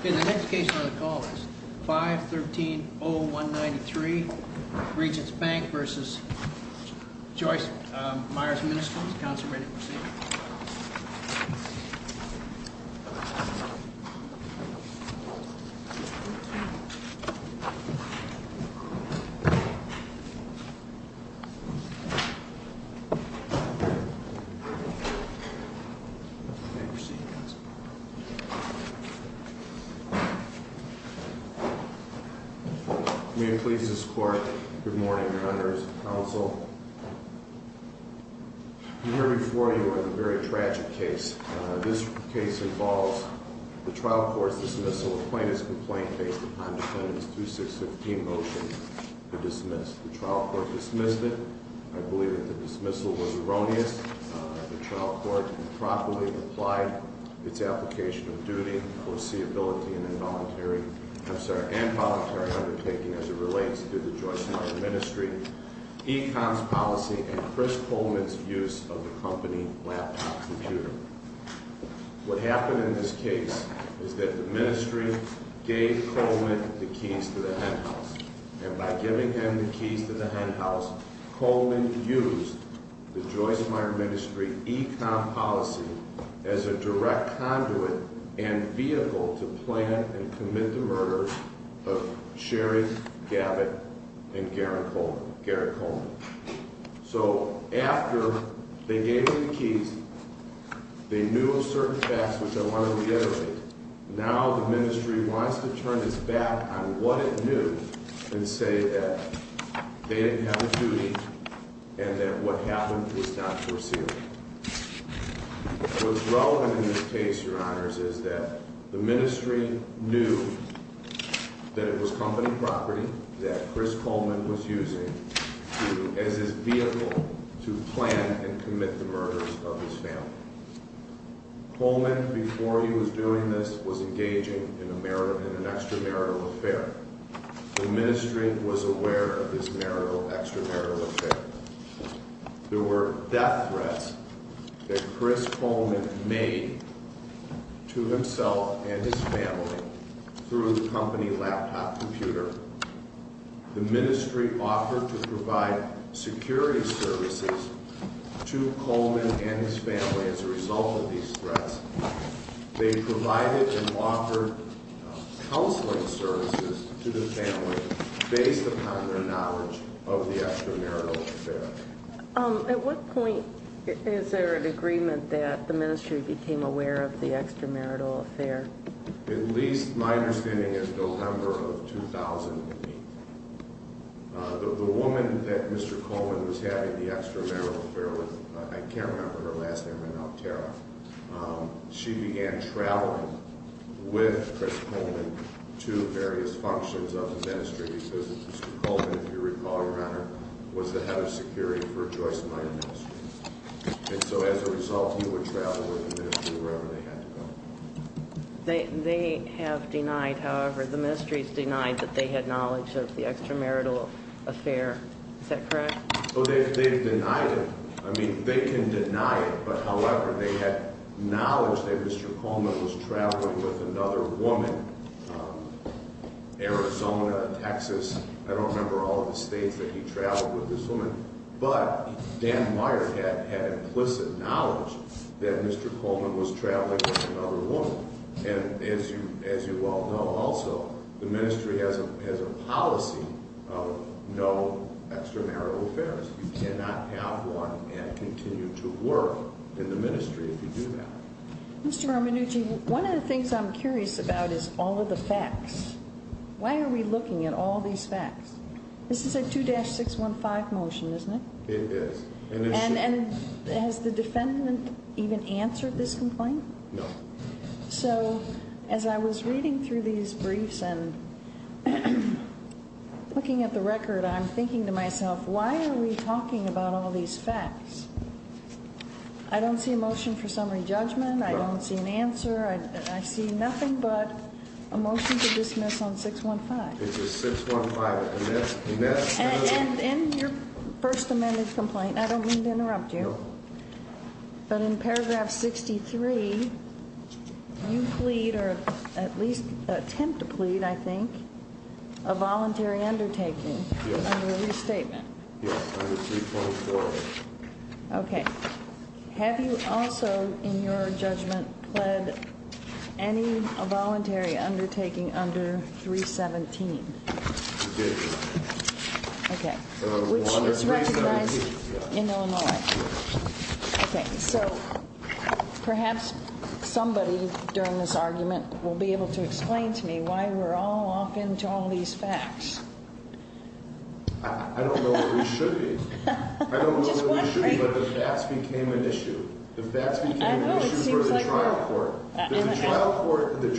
Okay, the next case on the call is 513-0193 Regions Bank v. Joyce Meyers Municipal. Is the counsel ready to proceed? You may proceed, counsel. May it please this court, good morning, your honors, counsel. I'm here before you on a very tragic case. This case involves the trial court's dismissal of plaintiff's complaint based upon defendant's 2615 motion to dismiss. The trial court dismissed it. I believe that the dismissal was erroneous. The trial court improperly applied its application of duty, foreseeability, and involuntary undertaking as it relates to the Joyce Meyers Ministry, Econ's policy, and Chris Coleman's use of the company laptop computer. What happened in this case is that the Ministry gave Coleman the keys to the henhouse. And by giving him the keys to the henhouse, Coleman used the Joyce Meyers Ministry, Econ's policy as a direct conduit and vehicle to plan and commit the murder of Sherry Gabbitt and Garrett Coleman. So after they gave him the keys, they knew of certain facts which I want to reiterate. Now the Ministry wants to turn its back on what it knew and say that they didn't have a duty and that what happened was not foreseeable. What's relevant in this case, Your Honors, is that the Ministry knew that it was company property that Chris Coleman was using as his vehicle to plan and commit the murders of his family. Coleman, before he was doing this, was engaging in an extramarital affair. The Ministry was aware of this extramarital affair. There were death threats that Chris Coleman made to himself and his family through the company laptop computer. The Ministry offered to provide security services to Coleman and his family as a result of these threats. They provided and offered counseling services to the family based upon their knowledge of the extramarital affair. At what point is there an agreement that the Ministry became aware of the extramarital affair? At least my understanding is November of 2008. The woman that Mr. Coleman was having the extramarital affair with, I can't remember her last name, but now Tara, she began traveling with Chris Coleman to various functions of the Ministry because Mr. Coleman, if you recall, Your Honor, was the head of security for Joyce Meyer Ministries. And so as a result, he would travel with the Ministry wherever they had to go. They have denied, however, the Ministry has denied that they had knowledge of the extramarital affair. Is that correct? Oh, they've denied it. I mean, they can deny it, but however, they had knowledge that Mr. Coleman was traveling with another woman, Arizona, Texas. I don't remember all of the states that he traveled with this woman. But Dan Meyer had implicit knowledge that Mr. Coleman was traveling with another woman. And as you all know also, the Ministry has a policy of no extramarital affairs. You cannot have one and continue to work in the Ministry if you do that. Mr. Romanucci, one of the things I'm curious about is all of the facts. Why are we looking at all these facts? This is a 2-615 motion, isn't it? It is. And has the defendant even answered this complaint? No. So as I was reading through these briefs and looking at the record, I'm thinking to myself, why are we talking about all these facts? I don't see a motion for summary judgment. I don't see an answer. I see nothing but a motion to dismiss on 615. It's a 615. And in your first amended complaint, I don't mean to interrupt you. No. But in paragraph 63, you plead or at least attempt to plead, I think, a voluntary undertaking under a restatement. Yes, under 324. Okay. Have you also, in your judgment, pled any voluntary undertaking under 317? I did. Okay. Which is recognized in Illinois. Okay. So perhaps somebody during this argument will be able to explain to me why we're all off into all these facts. I don't know what we should be. I don't know what we should be, but the facts became an issue. The facts became an issue for the trial court. The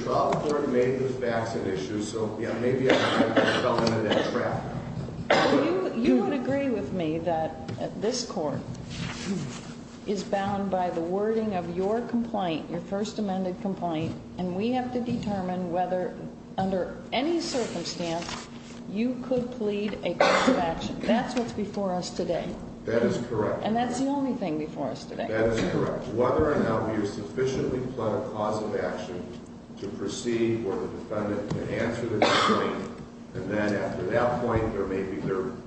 trial court made the facts an issue. So, yeah, maybe I fell into that trap. You would agree with me that this court is bound by the wording of your complaint, your first amended complaint, and we have to determine whether, under any circumstance, you could plead a course of action. That's what's before us today. That is correct. And that's the only thing before us today. That is correct. Whether or not we have sufficiently pled a cause of action to proceed where the defendant can answer the complaint, and then after that point there may be,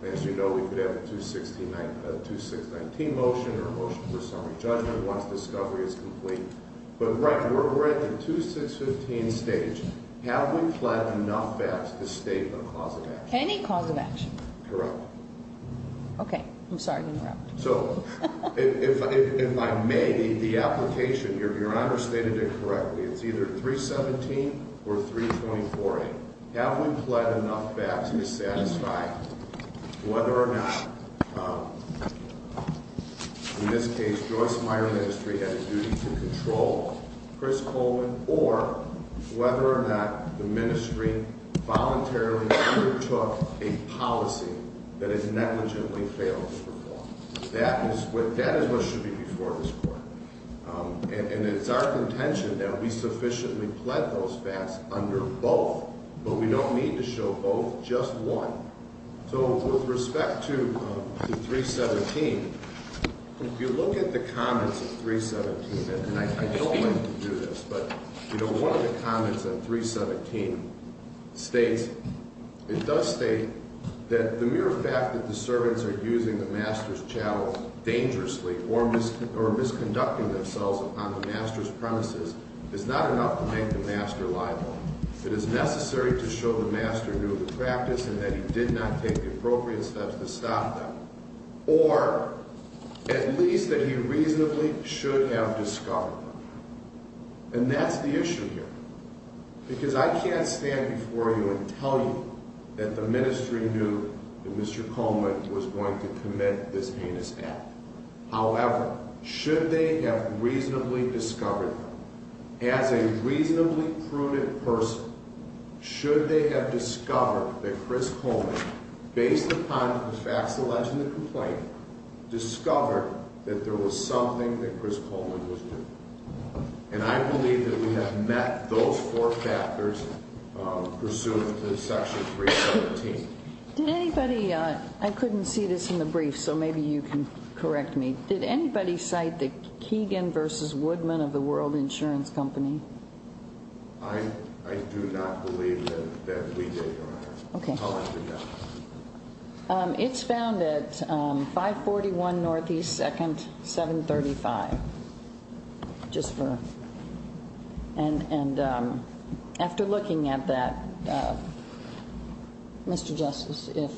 as you know, we could have a 2619 motion or a motion for summary judgment once discovery is complete. But we're at the 2615 stage. Have we pled enough facts to state a cause of action? Any cause of action. Correct. Okay. I'm sorry to interrupt. So, if I may, the application, Your Honor stated it correctly. It's either 317 or 324A. Have we pled enough facts to satisfy whether or not, in this case, the Joyce Meyer Ministry had a duty to control Chris Coleman or whether or not the ministry voluntarily undertook a policy that it negligently failed to perform? That is what should be before this court. And it's our contention that we sufficiently pled those facts under both. But we don't need to show both, just one. So with respect to 317, if you look at the comments of 317, and I don't like to do this, but one of the comments on 317 states, it does state that the mere fact that the servants are using the master's chow dangerously or misconducting themselves upon the master's premises is not enough to make the master liable. It is necessary to show the master knew the practice and that he did not take the appropriate steps to stop them. Or, at least that he reasonably should have discovered them. And that's the issue here. Because I can't stand before you and tell you that the ministry knew that Mr. Coleman was going to commit this heinous act. However, should they have reasonably discovered, as a reasonably prudent person, should they have discovered that Chris Coleman, based upon the facts alleged in the complaint, discovered that there was something that Chris Coleman was doing. And I believe that we have met those four factors pursuant to section 317. Did anybody, I couldn't see this in the brief, so maybe you can correct me. Did anybody cite the Keegan versus Woodman of the World Insurance Company? I do not believe that we did, Your Honor. Okay. I'll let you know. It's found at 541 Northeast 2nd, 735. Just for, and after looking at that, Mr. Justice, if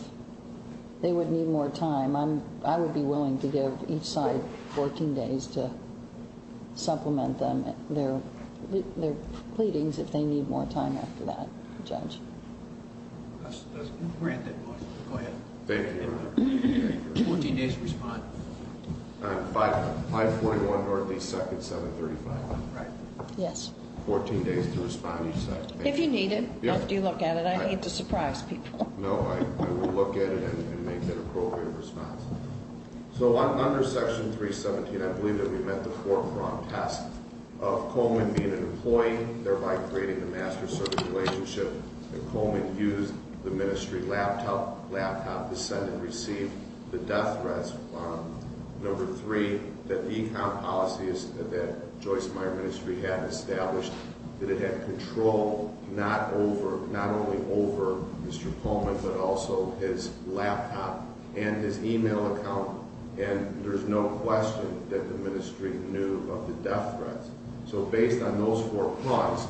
they would need more time, I would be willing to give each side 14 days to supplement their pleadings if they need more time after that. Judge. Go ahead. Thank you, Your Honor. 14 days to respond. 541 Northeast 2nd, 735. Right. Yes. 14 days to respond, you said. If you need it, after you look at it. I need to surprise people. No, I will look at it and make an appropriate response. So under section 317, I believe that we met the four-prong test of Coleman being an employee, thereby creating a master-servant relationship, and Coleman used the ministry laptop, the Senate received the death threats from. Number three, that the account policies that Joyce Meyer Ministry had established, that it had control not only over Mr. Coleman, but also his laptop and his e-mail account, and there's no question that the ministry knew of the death threats. So based on those four points,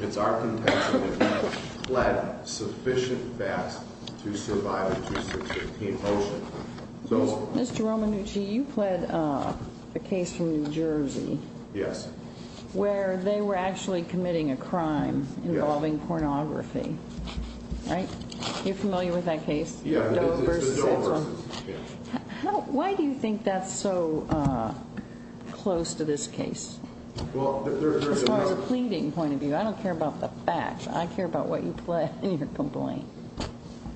it's our contention that he pled sufficient facts to survive the 2016 motion. Mr. Romanucci, you pled a case from New Jersey. Yes. Where they were actually committing a crime involving pornography. Right? Are you familiar with that case? Yeah. The Doe versus. Why do you think that's so close to this case? As far as a pleading point of view, I don't care about the facts. I care about what you pled in your complaint.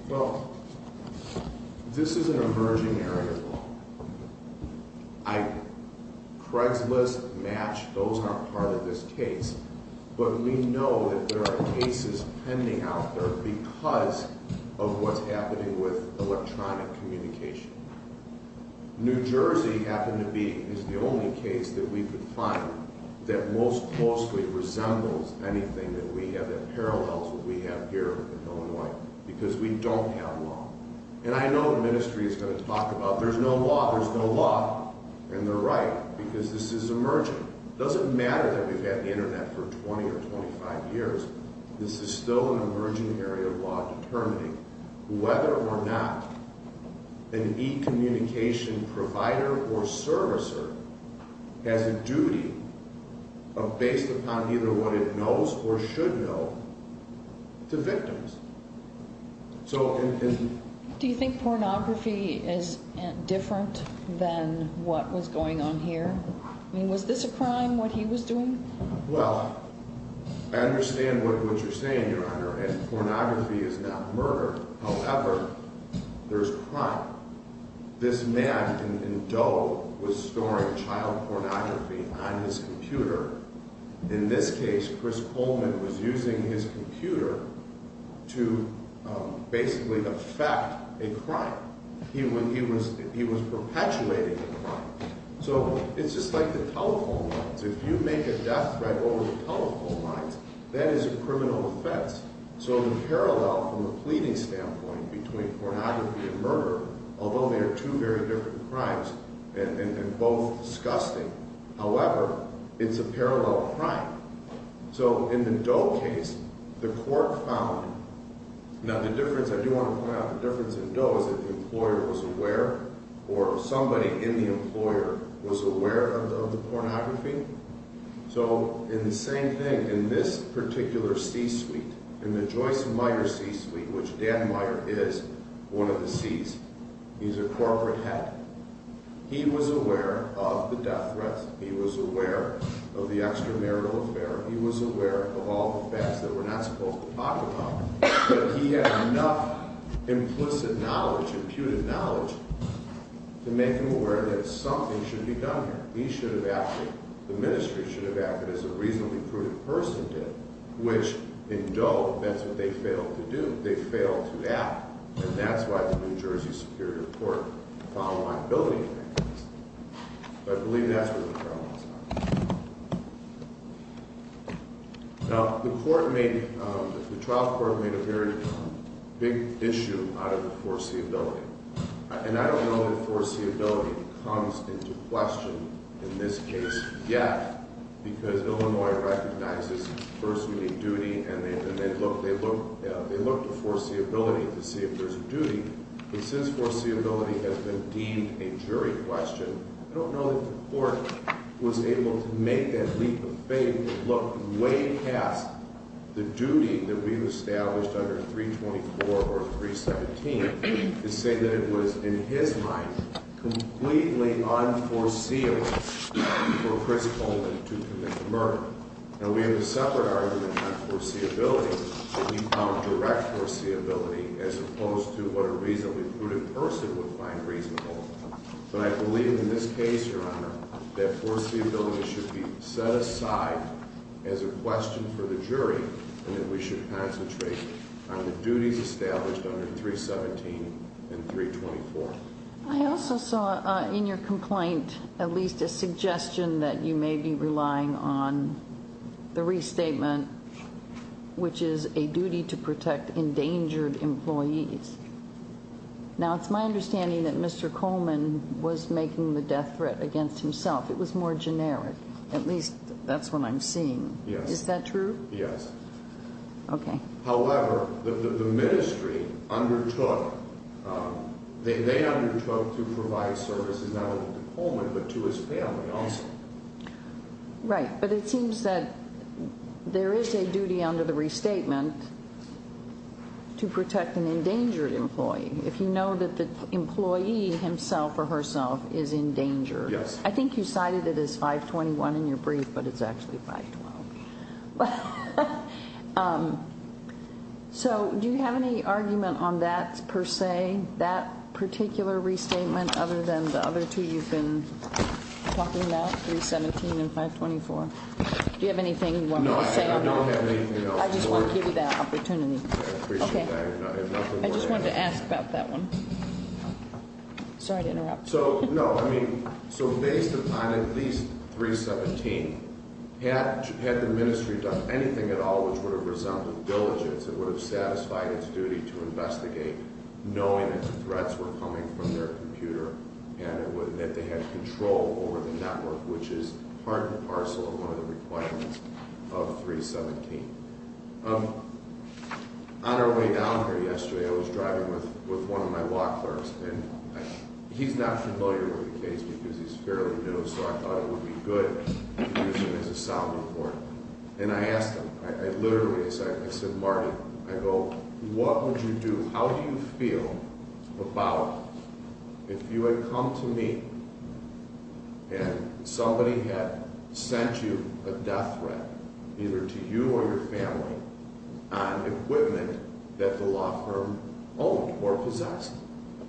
Well, this is an emerging area. Craigslist, Match, those aren't part of this case, but we know that there are cases pending out there because of what's happening with electronic communication. New Jersey happened to be, is the only case that we could find that most closely resembles anything that we have, that parallels what we have here in Illinois, because we don't have law. And I know the ministry is going to talk about, there's no law, there's no law. And they're right, because this is emerging. It doesn't matter that we've had the internet for 20 or 25 years. This is still an emerging area of law determining whether or not an e-communication provider or servicer has a duty based upon either what it knows or should know to victims. Do you think pornography is different than what was going on here? I mean, was this a crime, what he was doing? Well, I understand what you're saying, Your Honor, and pornography is not murder. However, there's crime. This man in Doe was storing child pornography on his computer. In this case, Chris Coleman was using his computer to basically effect a crime. He was perpetuating a crime. So, it's just like the telephone lines. If you make a death threat over the telephone lines, that is a criminal offense. So, in parallel, from a pleading standpoint, between pornography and murder, although they are two very different crimes, and both disgusting, however, it's a parallel crime. So, in the Doe case, the court found, now the difference, I do want to point out the difference in Doe, was that the employer was aware, or somebody in the employer was aware of the pornography. So, in the same thing, in this particular C-suite, in the Joyce Meyer C-suite, which Dan Meyer is one of the C's, he's a corporate head. He was aware of the death threats. He was aware of the extramarital affair. He was aware of all the facts that we're not supposed to talk about. But he had enough implicit knowledge, imputed knowledge, to make him aware that something should be done here. He should have acted, the ministry should have acted as a reasonably prudent person did, which in Doe, that's what they failed to do. They failed to act. And that's why the New Jersey Superior Court found liability in that case. But I believe that's where the problem is. Now, the court made, the trial court made a very big issue out of the foreseeability. And I don't know that foreseeability comes into question in this case yet, because Illinois recognizes first meeting duty, and they look to foreseeability to see if there's a duty. But since foreseeability has been deemed a jury question, I don't know that the court was able to make that leap of faith, look way past the duty that we've established under 324 or 317, to say that it was, in his mind, completely unforeseeable for Chris Coleman to commit the murder. Now, we have a separate argument on foreseeability that we found direct foreseeability, as opposed to what a reasonably prudent person would find reasonable. But I believe in this case, Your Honor, that foreseeability should be set aside as a question for the jury, and that we should concentrate on the duties established under 317 and 324. I also saw in your complaint at least a suggestion that you may be relying on the restatement, which is a duty to protect endangered employees. Now, it's my understanding that Mr. Coleman was making the death threat against himself. It was more generic. At least that's what I'm seeing. Yes. Is that true? Yes. Okay. However, the ministry undertook, they undertook to provide services not only to Coleman, but to his family also. Right. But it seems that there is a duty under the restatement to protect an endangered employee, if you know that the employee himself or herself is in danger. Yes. I think you cited it as 521 in your brief, but it's actually 512. So do you have any argument on that per se, that particular restatement, other than the other two you've been talking about, 317 and 524? Do you have anything you want me to say? No, I don't have anything else. I just want to give you that opportunity. I appreciate that. I have nothing more to add. I just wanted to ask about that one. Sorry to interrupt. So, no, I mean, so based upon at least 317, had the ministry done anything at all which would have resulted in diligence, that would have satisfied its duty to investigate, knowing that the threats were coming from their computer, and that they had control over the network, which is part and parcel of one of the requirements of 317. On our way down here yesterday, I was driving with one of my law clerks, and he's not familiar with the case because he's fairly new, so I thought it would be good to use him as a sounding board. And I asked him, I literally said, I said, Marty, I go, what would you do? How do you feel about if you had come to me and somebody had sent you a death threat, either to you or your family, on equipment that the law firm owned or possessed?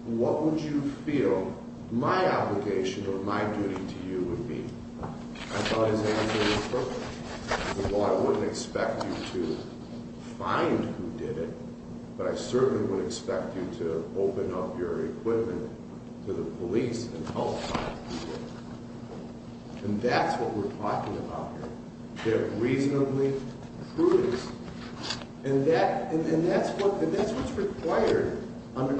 What would you feel my obligation or my duty to you would be? I thought his answer was perfect. He said, well, I wouldn't expect you to find who did it, but I certainly wouldn't expect you to open up your equipment to the police and help find people. And that's what we're talking about here. They're reasonably prudence. And that's what's required under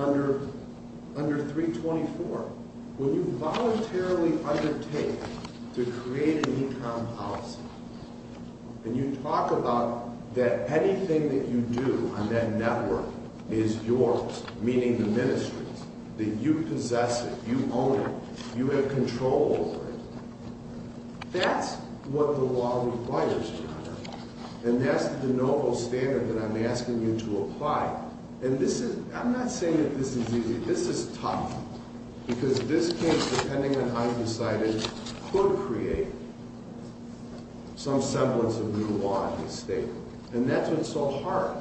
324. When you voluntarily undertake to create an e-com policy, and you talk about that anything that you do on that network is yours, meaning the ministries, that you possess it, you own it, you have control over it, that's what the law requires, and that's the noble standard that I'm asking you to apply. And this is, I'm not saying that this is easy. This is tough because this case, depending on how you decide it, could create some semblance of new law in this state. And that's what's so hard.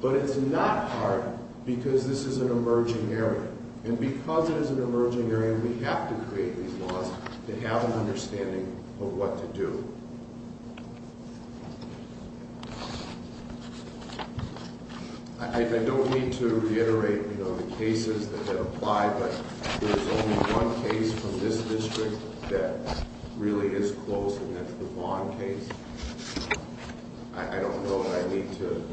But it's not hard because this is an emerging area. And because it is an emerging area, we have to create these laws to have an understanding of what to do. I don't need to reiterate the cases that apply, but there's only one case from this district that really is close, and that's the Vaughn case. I don't know that I need to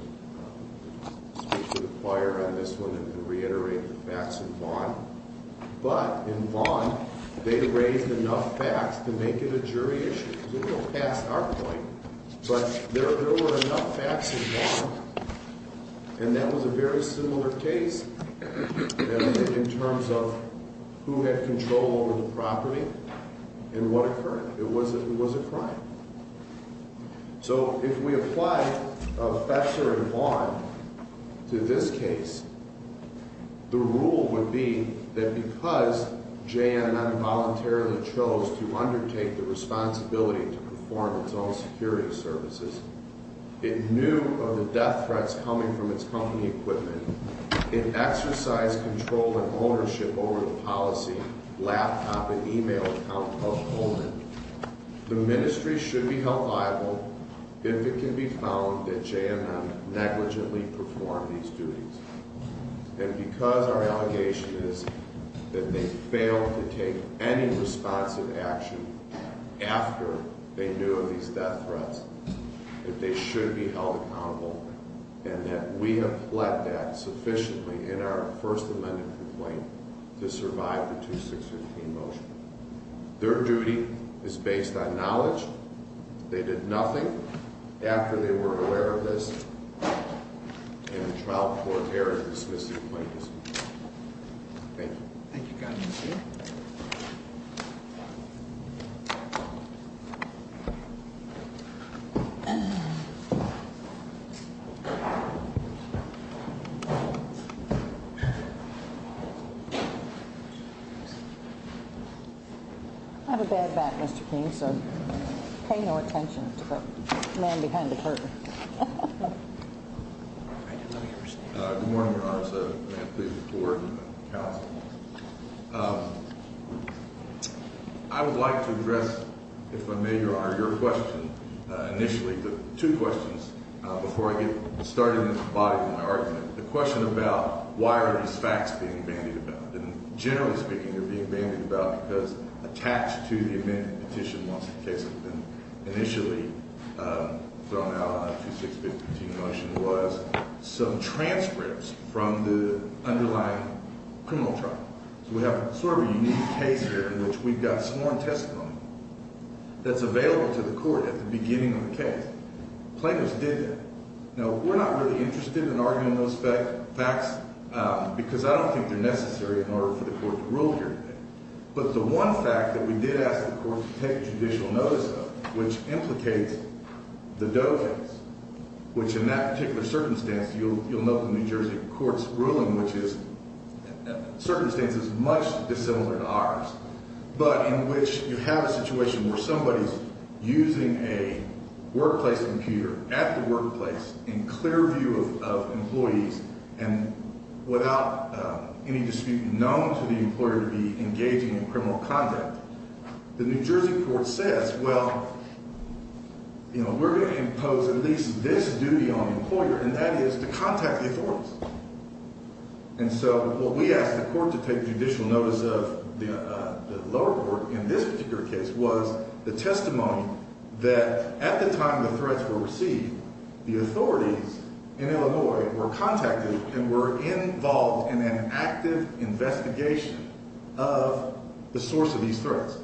speak to the choir on this one and reiterate the facts in Vaughn. But in Vaughn, they raised enough facts to make it a jury issue. It's a little past our point, but there were enough facts in Vaughn, and that was a very similar case in terms of who had control over the property and what occurred. It was a crime. So if we apply Fetzer and Vaughn to this case, the rule would be that because J&M voluntarily chose to undertake the responsibility to perform its own security services, it knew of the death threats coming from its company equipment, it exercised control and ownership over the policy, laptop, and e-mail account of Goldman. The ministry should be held liable if it can be found that J&M negligently performed these duties. And because our allegation is that they failed to take any responsive action after they knew of these death threats, that they should be held accountable, and that we have fled that sufficiently in our First Amendment complaint to survive the 2615 motion. Their duty is based on knowledge. They did nothing after they were aware of this in the trial court area dismissive plaintiffs. Thank you. Thank you, Governor. I have a bad back, Mr. King, so pay no attention to the man behind the curtain. Good morning, Your Honor. May I please report to the counsel? I would like to address, if I may, Your Honor, your question initially. Two questions before I get started in the body of my argument. The question about why are these facts being bandied about? Generally speaking, they're being bandied about because attached to the amendment petition once the case had been initially thrown out on the 2615 motion was some transcripts from the underlying criminal trial. So we have sort of a unique case here in which we've got sworn testimony that's available to the court at the beginning of the case. Plaintiffs did that. Now, we're not really interested in arguing those facts because I don't think they're necessary in order for the court to rule here today. But the one fact that we did ask the court to take judicial notice of, which implicates the Doe case, which in that particular circumstance you'll note the New Jersey court's ruling, which is circumstances much dissimilar to ours, but in which you have a situation where somebody's using a workplace computer at the workplace in clear view of employees and without any dispute known to the employer to be engaging in criminal conduct. The New Jersey court says, well, you know, we're going to impose at least this duty on the employer, and that is to contact the authorities. And so what we asked the court to take judicial notice of, the lower court in this particular case, was the testimony that at the time the threats were received, the authorities in Illinois were contacted and were involved in an active investigation of the source of these threats.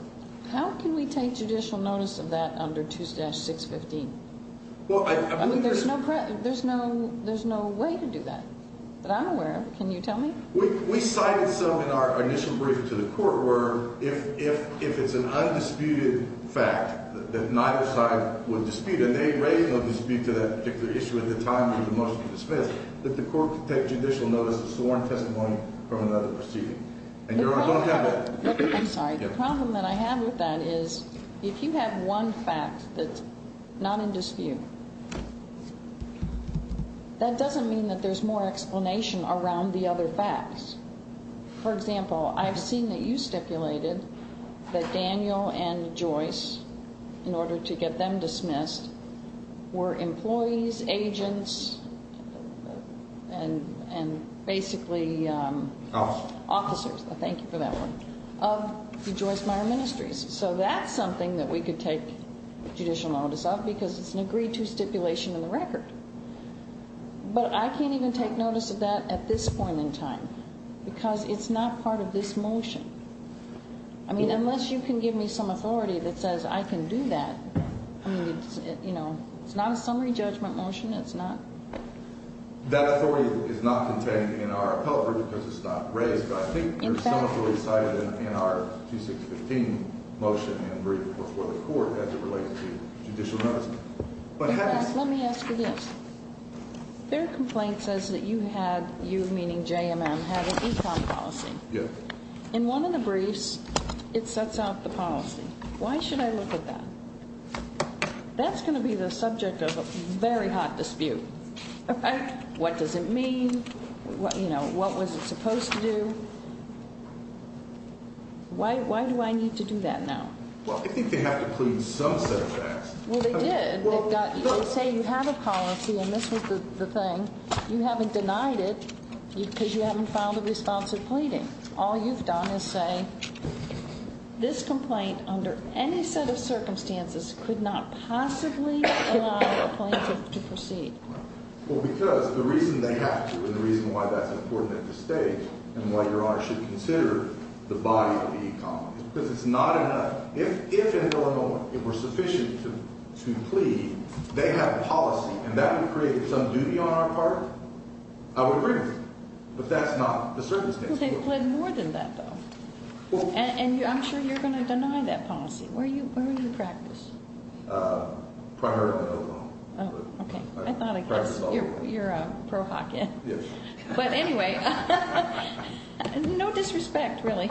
How can we take judicial notice of that under 2615? I mean, there's no way to do that that I'm aware of. Can you tell me? We cited some in our initial briefing to the court where if it's an undisputed fact that neither side would dispute, and they raised no dispute to that particular issue at the time of the motion to dismiss, that the court could take judicial notice of sworn testimony from another proceeding. I'm sorry. The problem that I have with that is if you have one fact that's not in dispute, that doesn't mean that there's more explanation around the other facts. For example, I've seen that you stipulated that Daniel and Joyce, in order to get them dismissed, were employees, agents, and basically officers. Thank you for that one. Of the Joyce Meyer Ministries. So that's something that we could take judicial notice of because it's an agreed to stipulation in the record. But I can't even take notice of that at this point in time because it's not part of this motion. I mean, unless you can give me some authority that says I can do that, I mean, you know, it's not a summary judgment motion. It's not. That authority is not contained in our appellate report because it's not raised, but I think there's some authority cited in our 2615 motion and brief before the court as it relates to judicial notice. Let me ask you this. Their complaint says that you had, you meaning JMM, had an equality policy. Yes. In one of the briefs, it sets out the policy. Why should I look at that? That's going to be the subject of a very hot dispute. What does it mean? You know, what was it supposed to do? Why do I need to do that now? Well, I think they had to plead some set of facts. Well, they did. They say you had a policy, and this was the thing. You haven't denied it because you haven't filed a responsive pleading. All you've done is say this complaint under any set of circumstances could not possibly allow a plaintiff to proceed. Well, because the reason they have to and the reason why that's important at this stage and why Your Honor should consider the body of the economy is because it's not enough. If in Illinois it were sufficient to plead, they have policy, and that would create some duty on our part, I would agree with them. But that's not the circumstance. Well, they've pleaded more than that, though. And I'm sure you're going to deny that policy. Where are you in practice? Prior to Illinois. Oh, okay. I thought I guessed. You're a pro-Hawken. Yes. But anyway, no disrespect, really.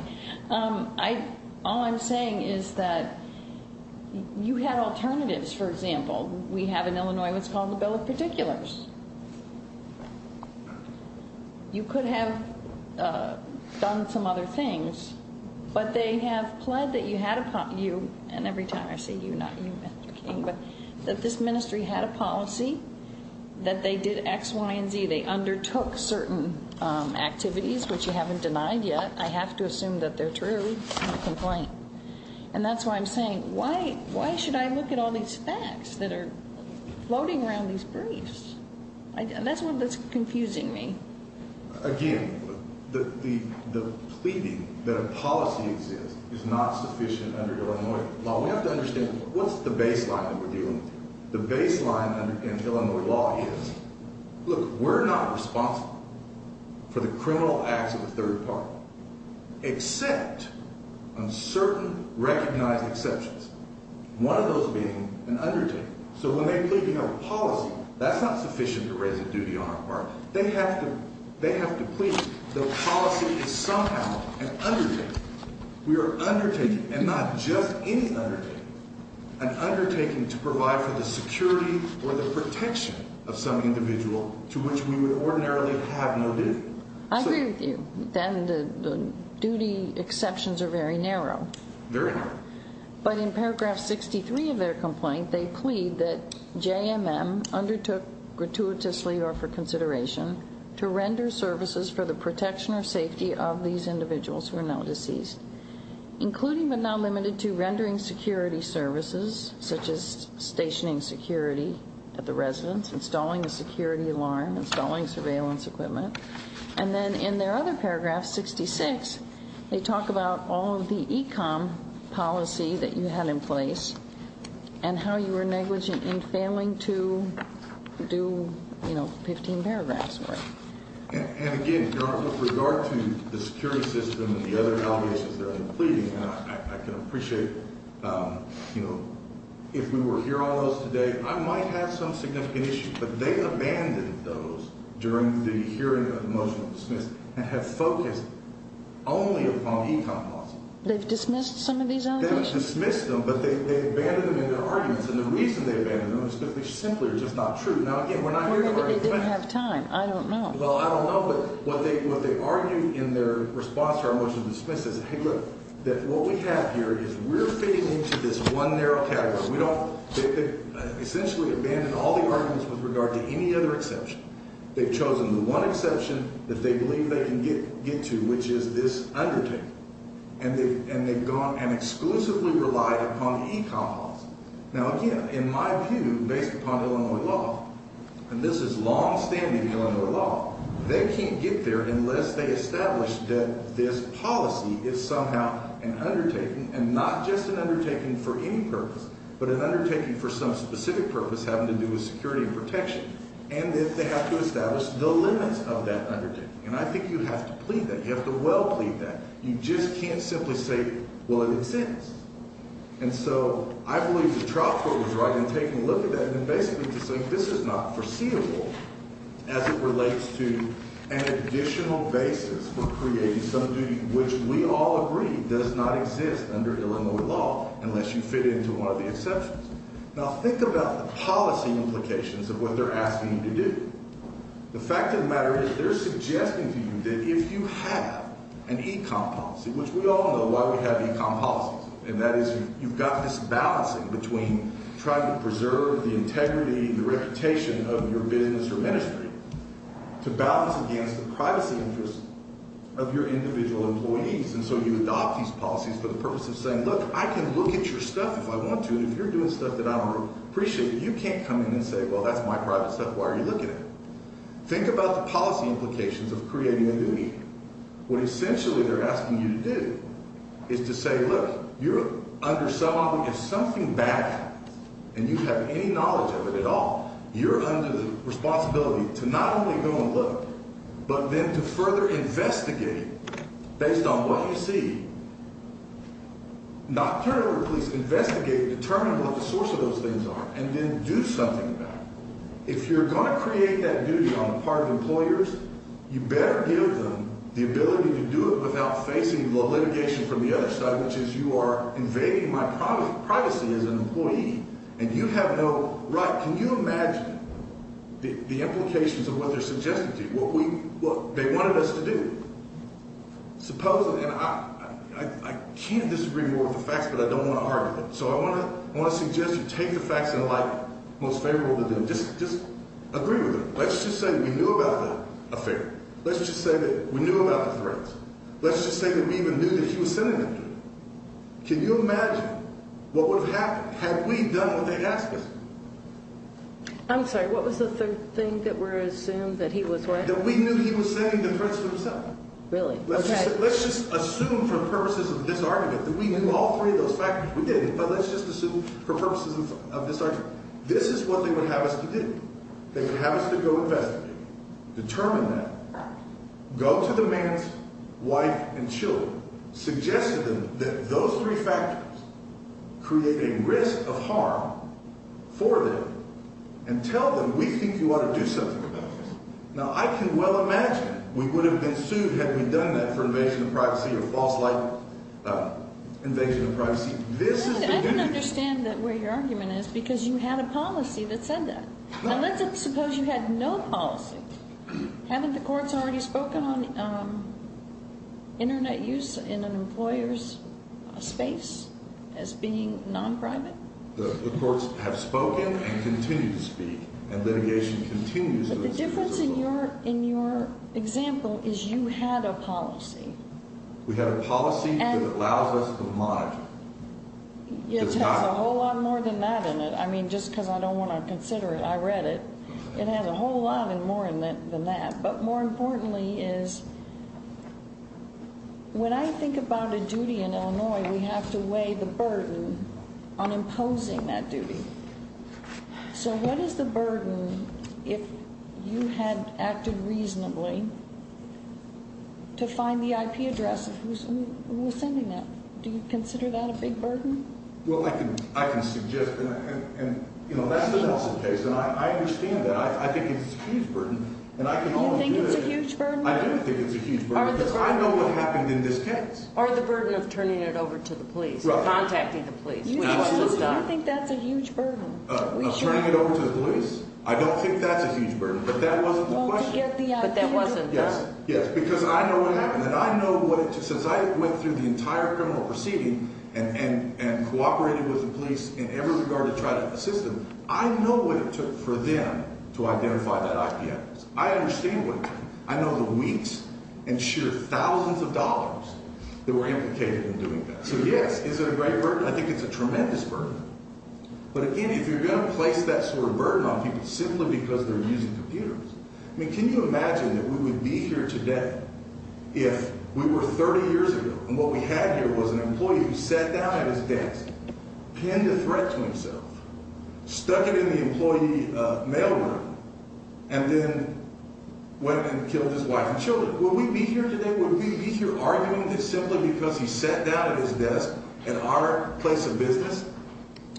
All I'm saying is that you had alternatives, for example. We have in Illinois what's called the Bill of Particulars. You could have done some other things, but they have pled that you had a policy. And every time I say you, not you, Mr. King, but that this ministry had a policy, that they did X, Y, and Z. They undertook certain activities, which you haven't denied yet. I have to assume that they're true in the complaint. And that's why I'm saying, why should I look at all these facts that are floating around these briefs? That's what's confusing me. Again, the pleading that a policy exists is not sufficient under Illinois law. We have to understand what's the baseline that we're dealing with. The baseline in Illinois law is, look, we're not responsible for the criminal acts of a third party, except on certain recognized exceptions, one of those being an undertaking. So when they plead to have a policy, that's not sufficient to raise a duty on our part. They have to plead that the policy is somehow an undertaking. We are undertaking, and not just any undertaking, an undertaking to provide for the security or the protection of some individual to which we would ordinarily have no duty. I agree with you. The duty exceptions are very narrow. Very narrow. But in paragraph 63 of their complaint, they plead that JMM undertook gratuitously or for consideration to render services for the protection or safety of these individuals who are now deceased. Including but not limited to rendering security services, such as stationing security at the residence, installing a security alarm, installing surveillance equipment. And then in their other paragraph, 66, they talk about all of the ECOM policy that you had in place and how you were negligent in failing to do, you know, 15 paragraphs worth. And again, Your Honor, with regard to the security system and the other allegations that I'm pleading, I can appreciate, you know, if we were to hear all those today, I might have some significant issues. But they abandoned those during the hearing of the motion of dismissal and have focused only upon ECOM policy. They've dismissed some of these allegations? They've dismissed them, but they abandoned them in their arguments. And the reason they abandoned them is simply simply are just not true. Now, again, we're not here to argue defense. Well, maybe they didn't have time. I don't know. Well, I don't know. But what they argued in their response to our motion of dismissal is, hey, look, that what we have here is we're fitting into this one narrow category. They essentially abandoned all the arguments with regard to any other exception. They've chosen the one exception that they believe they can get to, which is this undertaking. And they've gone and exclusively relied upon the ECOM policy. Now, again, in my view, based upon Illinois law, and this is longstanding Illinois law, they can't get there unless they establish that this policy is somehow an undertaking and not just an undertaking for any purpose. But an undertaking for some specific purpose having to do with security and protection. And that they have to establish the limits of that undertaking. And I think you have to plead that. You have to well plead that. You just can't simply say, well, it exists. And so I believe the trial court was right in taking a look at that and basically saying this is not foreseeable as it relates to an additional basis for creating some duty which we all agree does not exist under Illinois law unless you fit into one of the exceptions. Now, think about the policy implications of what they're asking you to do. The fact of the matter is they're suggesting to you that if you have an ECOM policy, which we all know why we have ECOM policies, and that is you've got this balancing between trying to preserve the integrity and the reputation of your business or ministry to balance against the privacy interests of your individual employees. And so you adopt these policies for the purpose of saying, look, I can look at your stuff if I want to. But if you're doing stuff that I want to appreciate, you can't come in and say, well, that's my private stuff. Why are you looking at it? Think about the policy implications of creating a duty. What essentially they're asking you to do is to say, look, you're under some obligation. If something bad happens and you have any knowledge of it at all, you're under the responsibility to not only go and look, but then to further investigate based on what you see. Nocturnal police investigate, determine what the source of those things are, and then do something about it. If you're going to create that duty on the part of employers, you better give them the ability to do it without facing litigation from the other side, which is you are invading my privacy as an employee. And you have no right. Can you imagine the implications of what they're suggesting to you, what they wanted us to do? Supposedly, and I can't disagree more with the facts, but I don't want to argue them. So I want to suggest you take the facts in a light most favorable to them. Just agree with them. Let's just say we knew about the affair. Let's just say that we knew about the threats. Let's just say that we even knew that he was sending them through. Can you imagine what would have happened had we done what they asked us to do? I'm sorry. What was the third thing that we're assuming that he was saying? That we knew he was sending the threats to himself. Really? Okay. Let's just assume for purposes of this argument that we knew all three of those factors. We didn't, but let's just assume for purposes of this argument. This is what they would have us to do. They would have us to go investigate, determine that, go to the man's wife and children, suggest to them that those three factors create a risk of harm for them, and tell them, we think you ought to do something about this. Now, I can well imagine we would have been sued had we done that for invasion of privacy or false light invasion of privacy. I don't understand where your argument is because you had a policy that said that. Let's suppose you had no policy. Haven't the courts already spoken on Internet use in an employer's space as being non-private? The courts have spoken and continue to speak, and litigation continues. But the difference in your example is you had a policy. We had a policy that allows us to monitor. It has a whole lot more than that in it. I mean, just because I don't want to consider it. I read it. It has a whole lot more than that. But more importantly is when I think about a duty in Illinois, we have to weigh the burden on imposing that duty. So what is the burden if you had acted reasonably to find the IP address of who was sending that? Do you consider that a big burden? Well, I can suggest. And, you know, that's the Nelson case, and I understand that. I think it's a huge burden. Do you think it's a huge burden? I do think it's a huge burden because I know what happened in this case. Or the burden of turning it over to the police or contacting the police. Do you think that's a huge burden? Of turning it over to the police? I don't think that's a huge burden, but that wasn't the question. But that wasn't done? Yes, because I know what happened. And I know what it took. Since I went through the entire criminal proceeding and cooperated with the police in every regard to try to assist them, I know what it took for them to identify that IP address. I understand what it took. I know the weeks and sheer thousands of dollars that were implicated in doing that. So, yes, is it a great burden? I think it's a tremendous burden. But, again, if you're going to place that sort of burden on people simply because they're using computers, I mean, can you imagine that we would be here today if we were 30 years ago and what we had here was an employee who sat down at his desk, penned a threat to himself, stuck it in the employee mail room, and then went and killed his wife and children. Would we be here today? Would we be here arguing this simply because he sat down at his desk at our place of business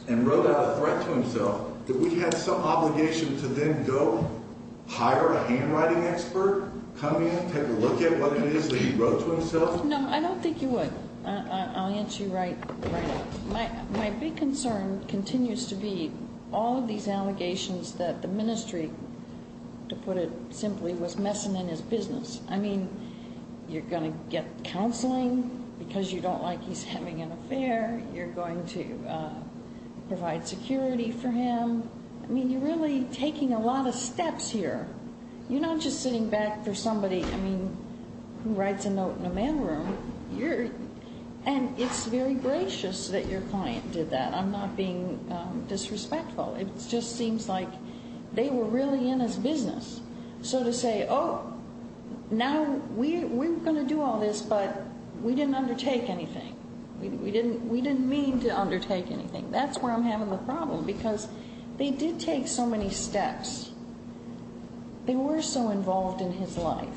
and wrote out a threat to himself that we had some obligation to then go hire a handwriting expert, come in, take a look at what it is that he wrote to himself? No, I don't think you would. I'll answer you right up. My big concern continues to be all of these allegations that the ministry, to put it simply, was messing in his business. I mean, you're going to get counseling because you don't like he's having an affair. You're going to provide security for him. I mean, you're really taking a lot of steps here. You're not just sitting back for somebody who writes a note in a mail room. And it's very gracious that your client did that. I'm not being disrespectful. It just seems like they were really in his business. So to say, oh, now we're going to do all this, but we didn't undertake anything. We didn't mean to undertake anything. That's where I'm having the problem because they did take so many steps. They were so involved in his life.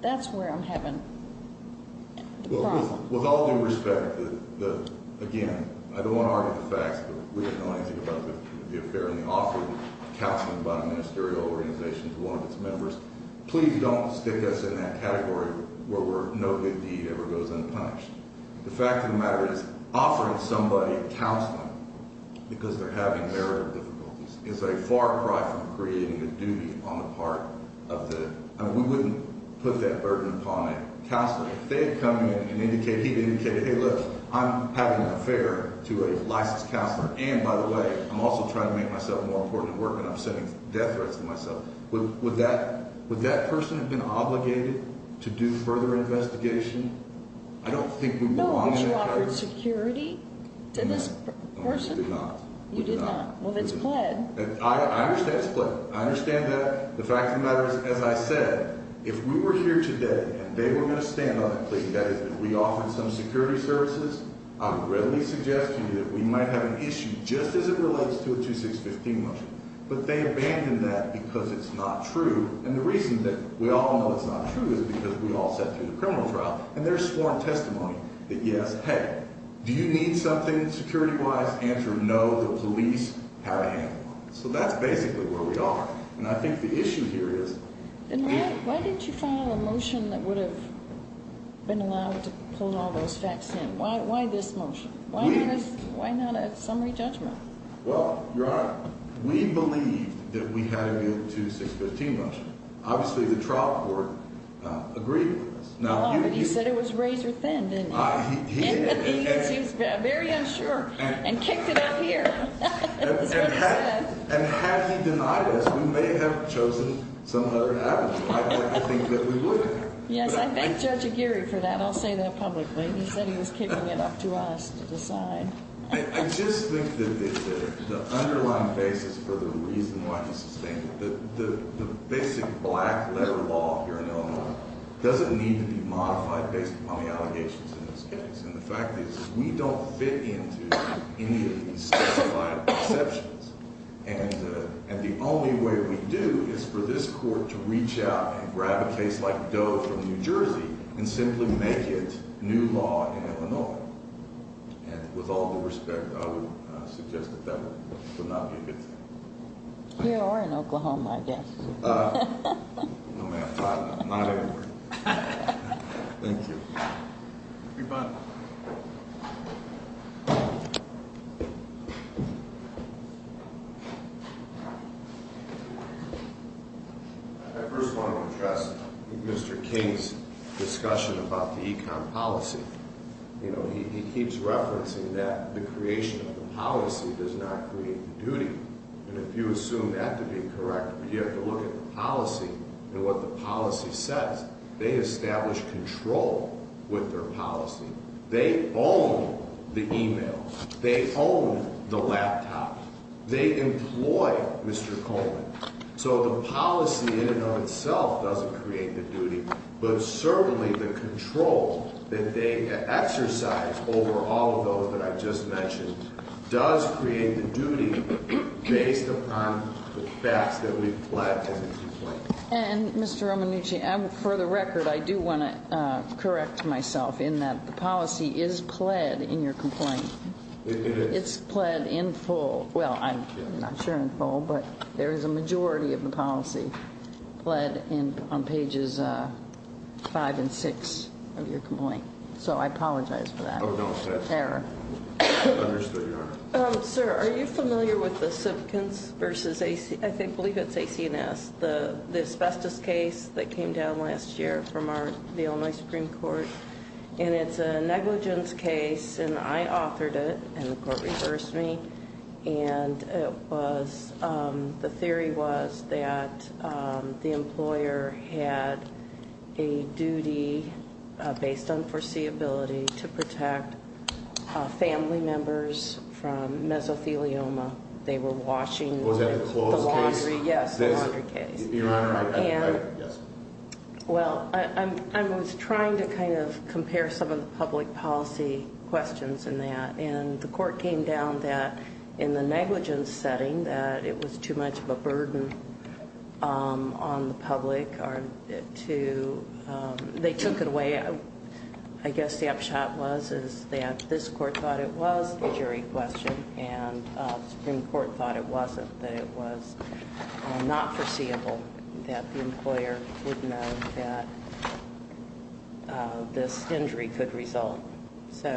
That's where I'm having the problem. Well, with all due respect, again, I don't want to argue the facts, but we didn't know anything about the affair and the offering of counseling by a ministerial organization to one of its members. Please don't stick us in that category where no good deed ever goes unpunished. The fact of the matter is offering somebody counseling because they're having their difficulties is a far cry from creating a duty on the part of the ‑‑ I mean, we wouldn't put that burden upon a counselor. If they had come in and indicated, hey, look, I'm having an affair to a licensed counselor, and, by the way, I'm also trying to make myself more important at work and I'm sending death threats to myself, would that person have been obligated to do further investigation? I don't think we would want to ‑‑ No, because you offered security to this person. No, we did not. You did not. Well, it's pled. I understand it's pled. I understand that. The fact of the matter is, as I said, if we were here today and they were going to stand on that plea, that is, if we offered some security services, I would readily suggest to you that we might have an issue just as it relates to a 2615 motion, but they abandoned that because it's not true, and the reason that we all know it's not true is because we all sat through the criminal trial and there's sworn testimony that, yes, hey, do you need something security‑wise? Answer, no. The police have a handle on it. So that's basically where we are, and I think the issue here is ‑‑ Then why didn't you file a motion that would have been allowed to pull all those facts in? Why this motion? Please. Why not a summary judgment? Well, Your Honor, we believed that we had a 2615 motion. Obviously, the trial court agreed with us. But he said it was razor thin, didn't he? He did. Because he was very unsure and kicked it out of here. That's what he said. And had he denied us, we may have chosen some other avenue. I think that we would have. Yes, I thanked Judge Aguirre for that. I'll say that publicly. He said he was kicking it up to us to decide. I just think that the underlying basis for the reason why he sustained it, the basic black letter law here in Illinois doesn't need to be modified based upon the allegations in this case, and the fact is we don't fit into any of these specified perceptions. And the only way we do is for this court to reach out and grab a case like Doe from New Jersey and simply make it new law in Illinois. And with all due respect, I would suggest that that would not be a good thing. Here or in Oklahoma, I guess. No, ma'am, not anywhere. Thank you. Rebut. I first want to address Mr. King's discussion about the econ policy. You know, he keeps referencing that the creation of the policy does not create the duty. And if you assume that to be correct, you have to look at the policy and what the policy says. They establish control with their policy. They own the e-mail. They own the laptop. They employ Mr. Coleman. So the policy in and of itself doesn't create the duty, but certainly the control that they exercise over all of those that I just mentioned does create the duty based upon the facts that we've pledged. And, Mr. Romanucci, for the record, I do want to correct myself in that the policy is pled in your complaint. It's pled in full. Well, I'm not sure in full, but there is a majority of the policy pled on pages five and six of your complaint. So I apologize for that error. Understood, Your Honor. Sir, are you familiar with the Simpkins versus, I believe it's AC&S, the asbestos case that came down last year from the Illinois Supreme Court? And it's a negligence case, and I authored it, and the court reversed me. And the theory was that the employer had a duty based on foreseeability to protect family members from mesothelioma. They were washing the laundry. Was that the clothes case? Yes, the laundry case. Your Honor, I can't remember. Well, I was trying to kind of compare some of the public policy questions in that, and the court came down that in the negligence setting that it was too much of a burden on the public. They took it away. I guess the upshot was that this court thought it was a jury question, and the Supreme Court thought it wasn't, that it was not foreseeable that the employer would know that this injury could result. So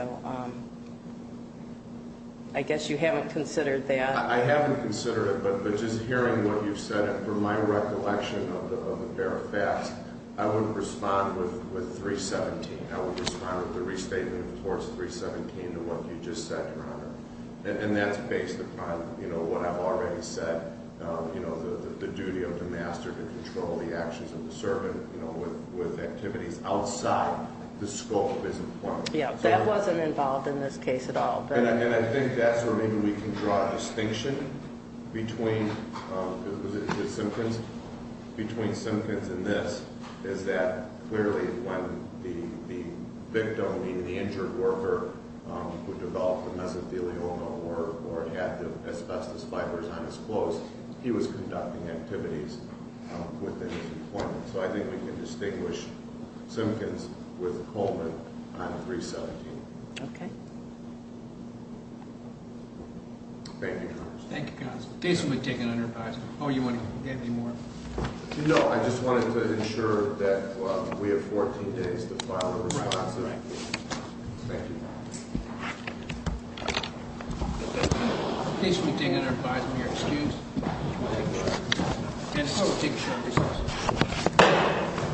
I guess you haven't considered that. I haven't considered it, but just hearing what you've said, for my recollection of the bare facts, I would respond with 317. I would respond with the restatement of Clause 317 to what you just said, Your Honor. And that's based upon what I've already said, the duty of the master to control the actions of the servant with activities outside the scope of his employment. Yeah, that wasn't involved in this case at all. And I think that's where maybe we can draw a distinction between Simkins and this, is that clearly when the victim, meaning the injured worker who developed the mesothelioma or had the asbestos fibers on his clothes, so I think we can distinguish Simkins with Coleman on 317. Okay. Thank you, Your Honor. Thank you, counsel. Case will be taken under advisory. Oh, you want to add any more? No, I just wanted to ensure that we have 14 days to file a response. Thank you. Case will be taken under advisory. We are excused. And I will take a short recess.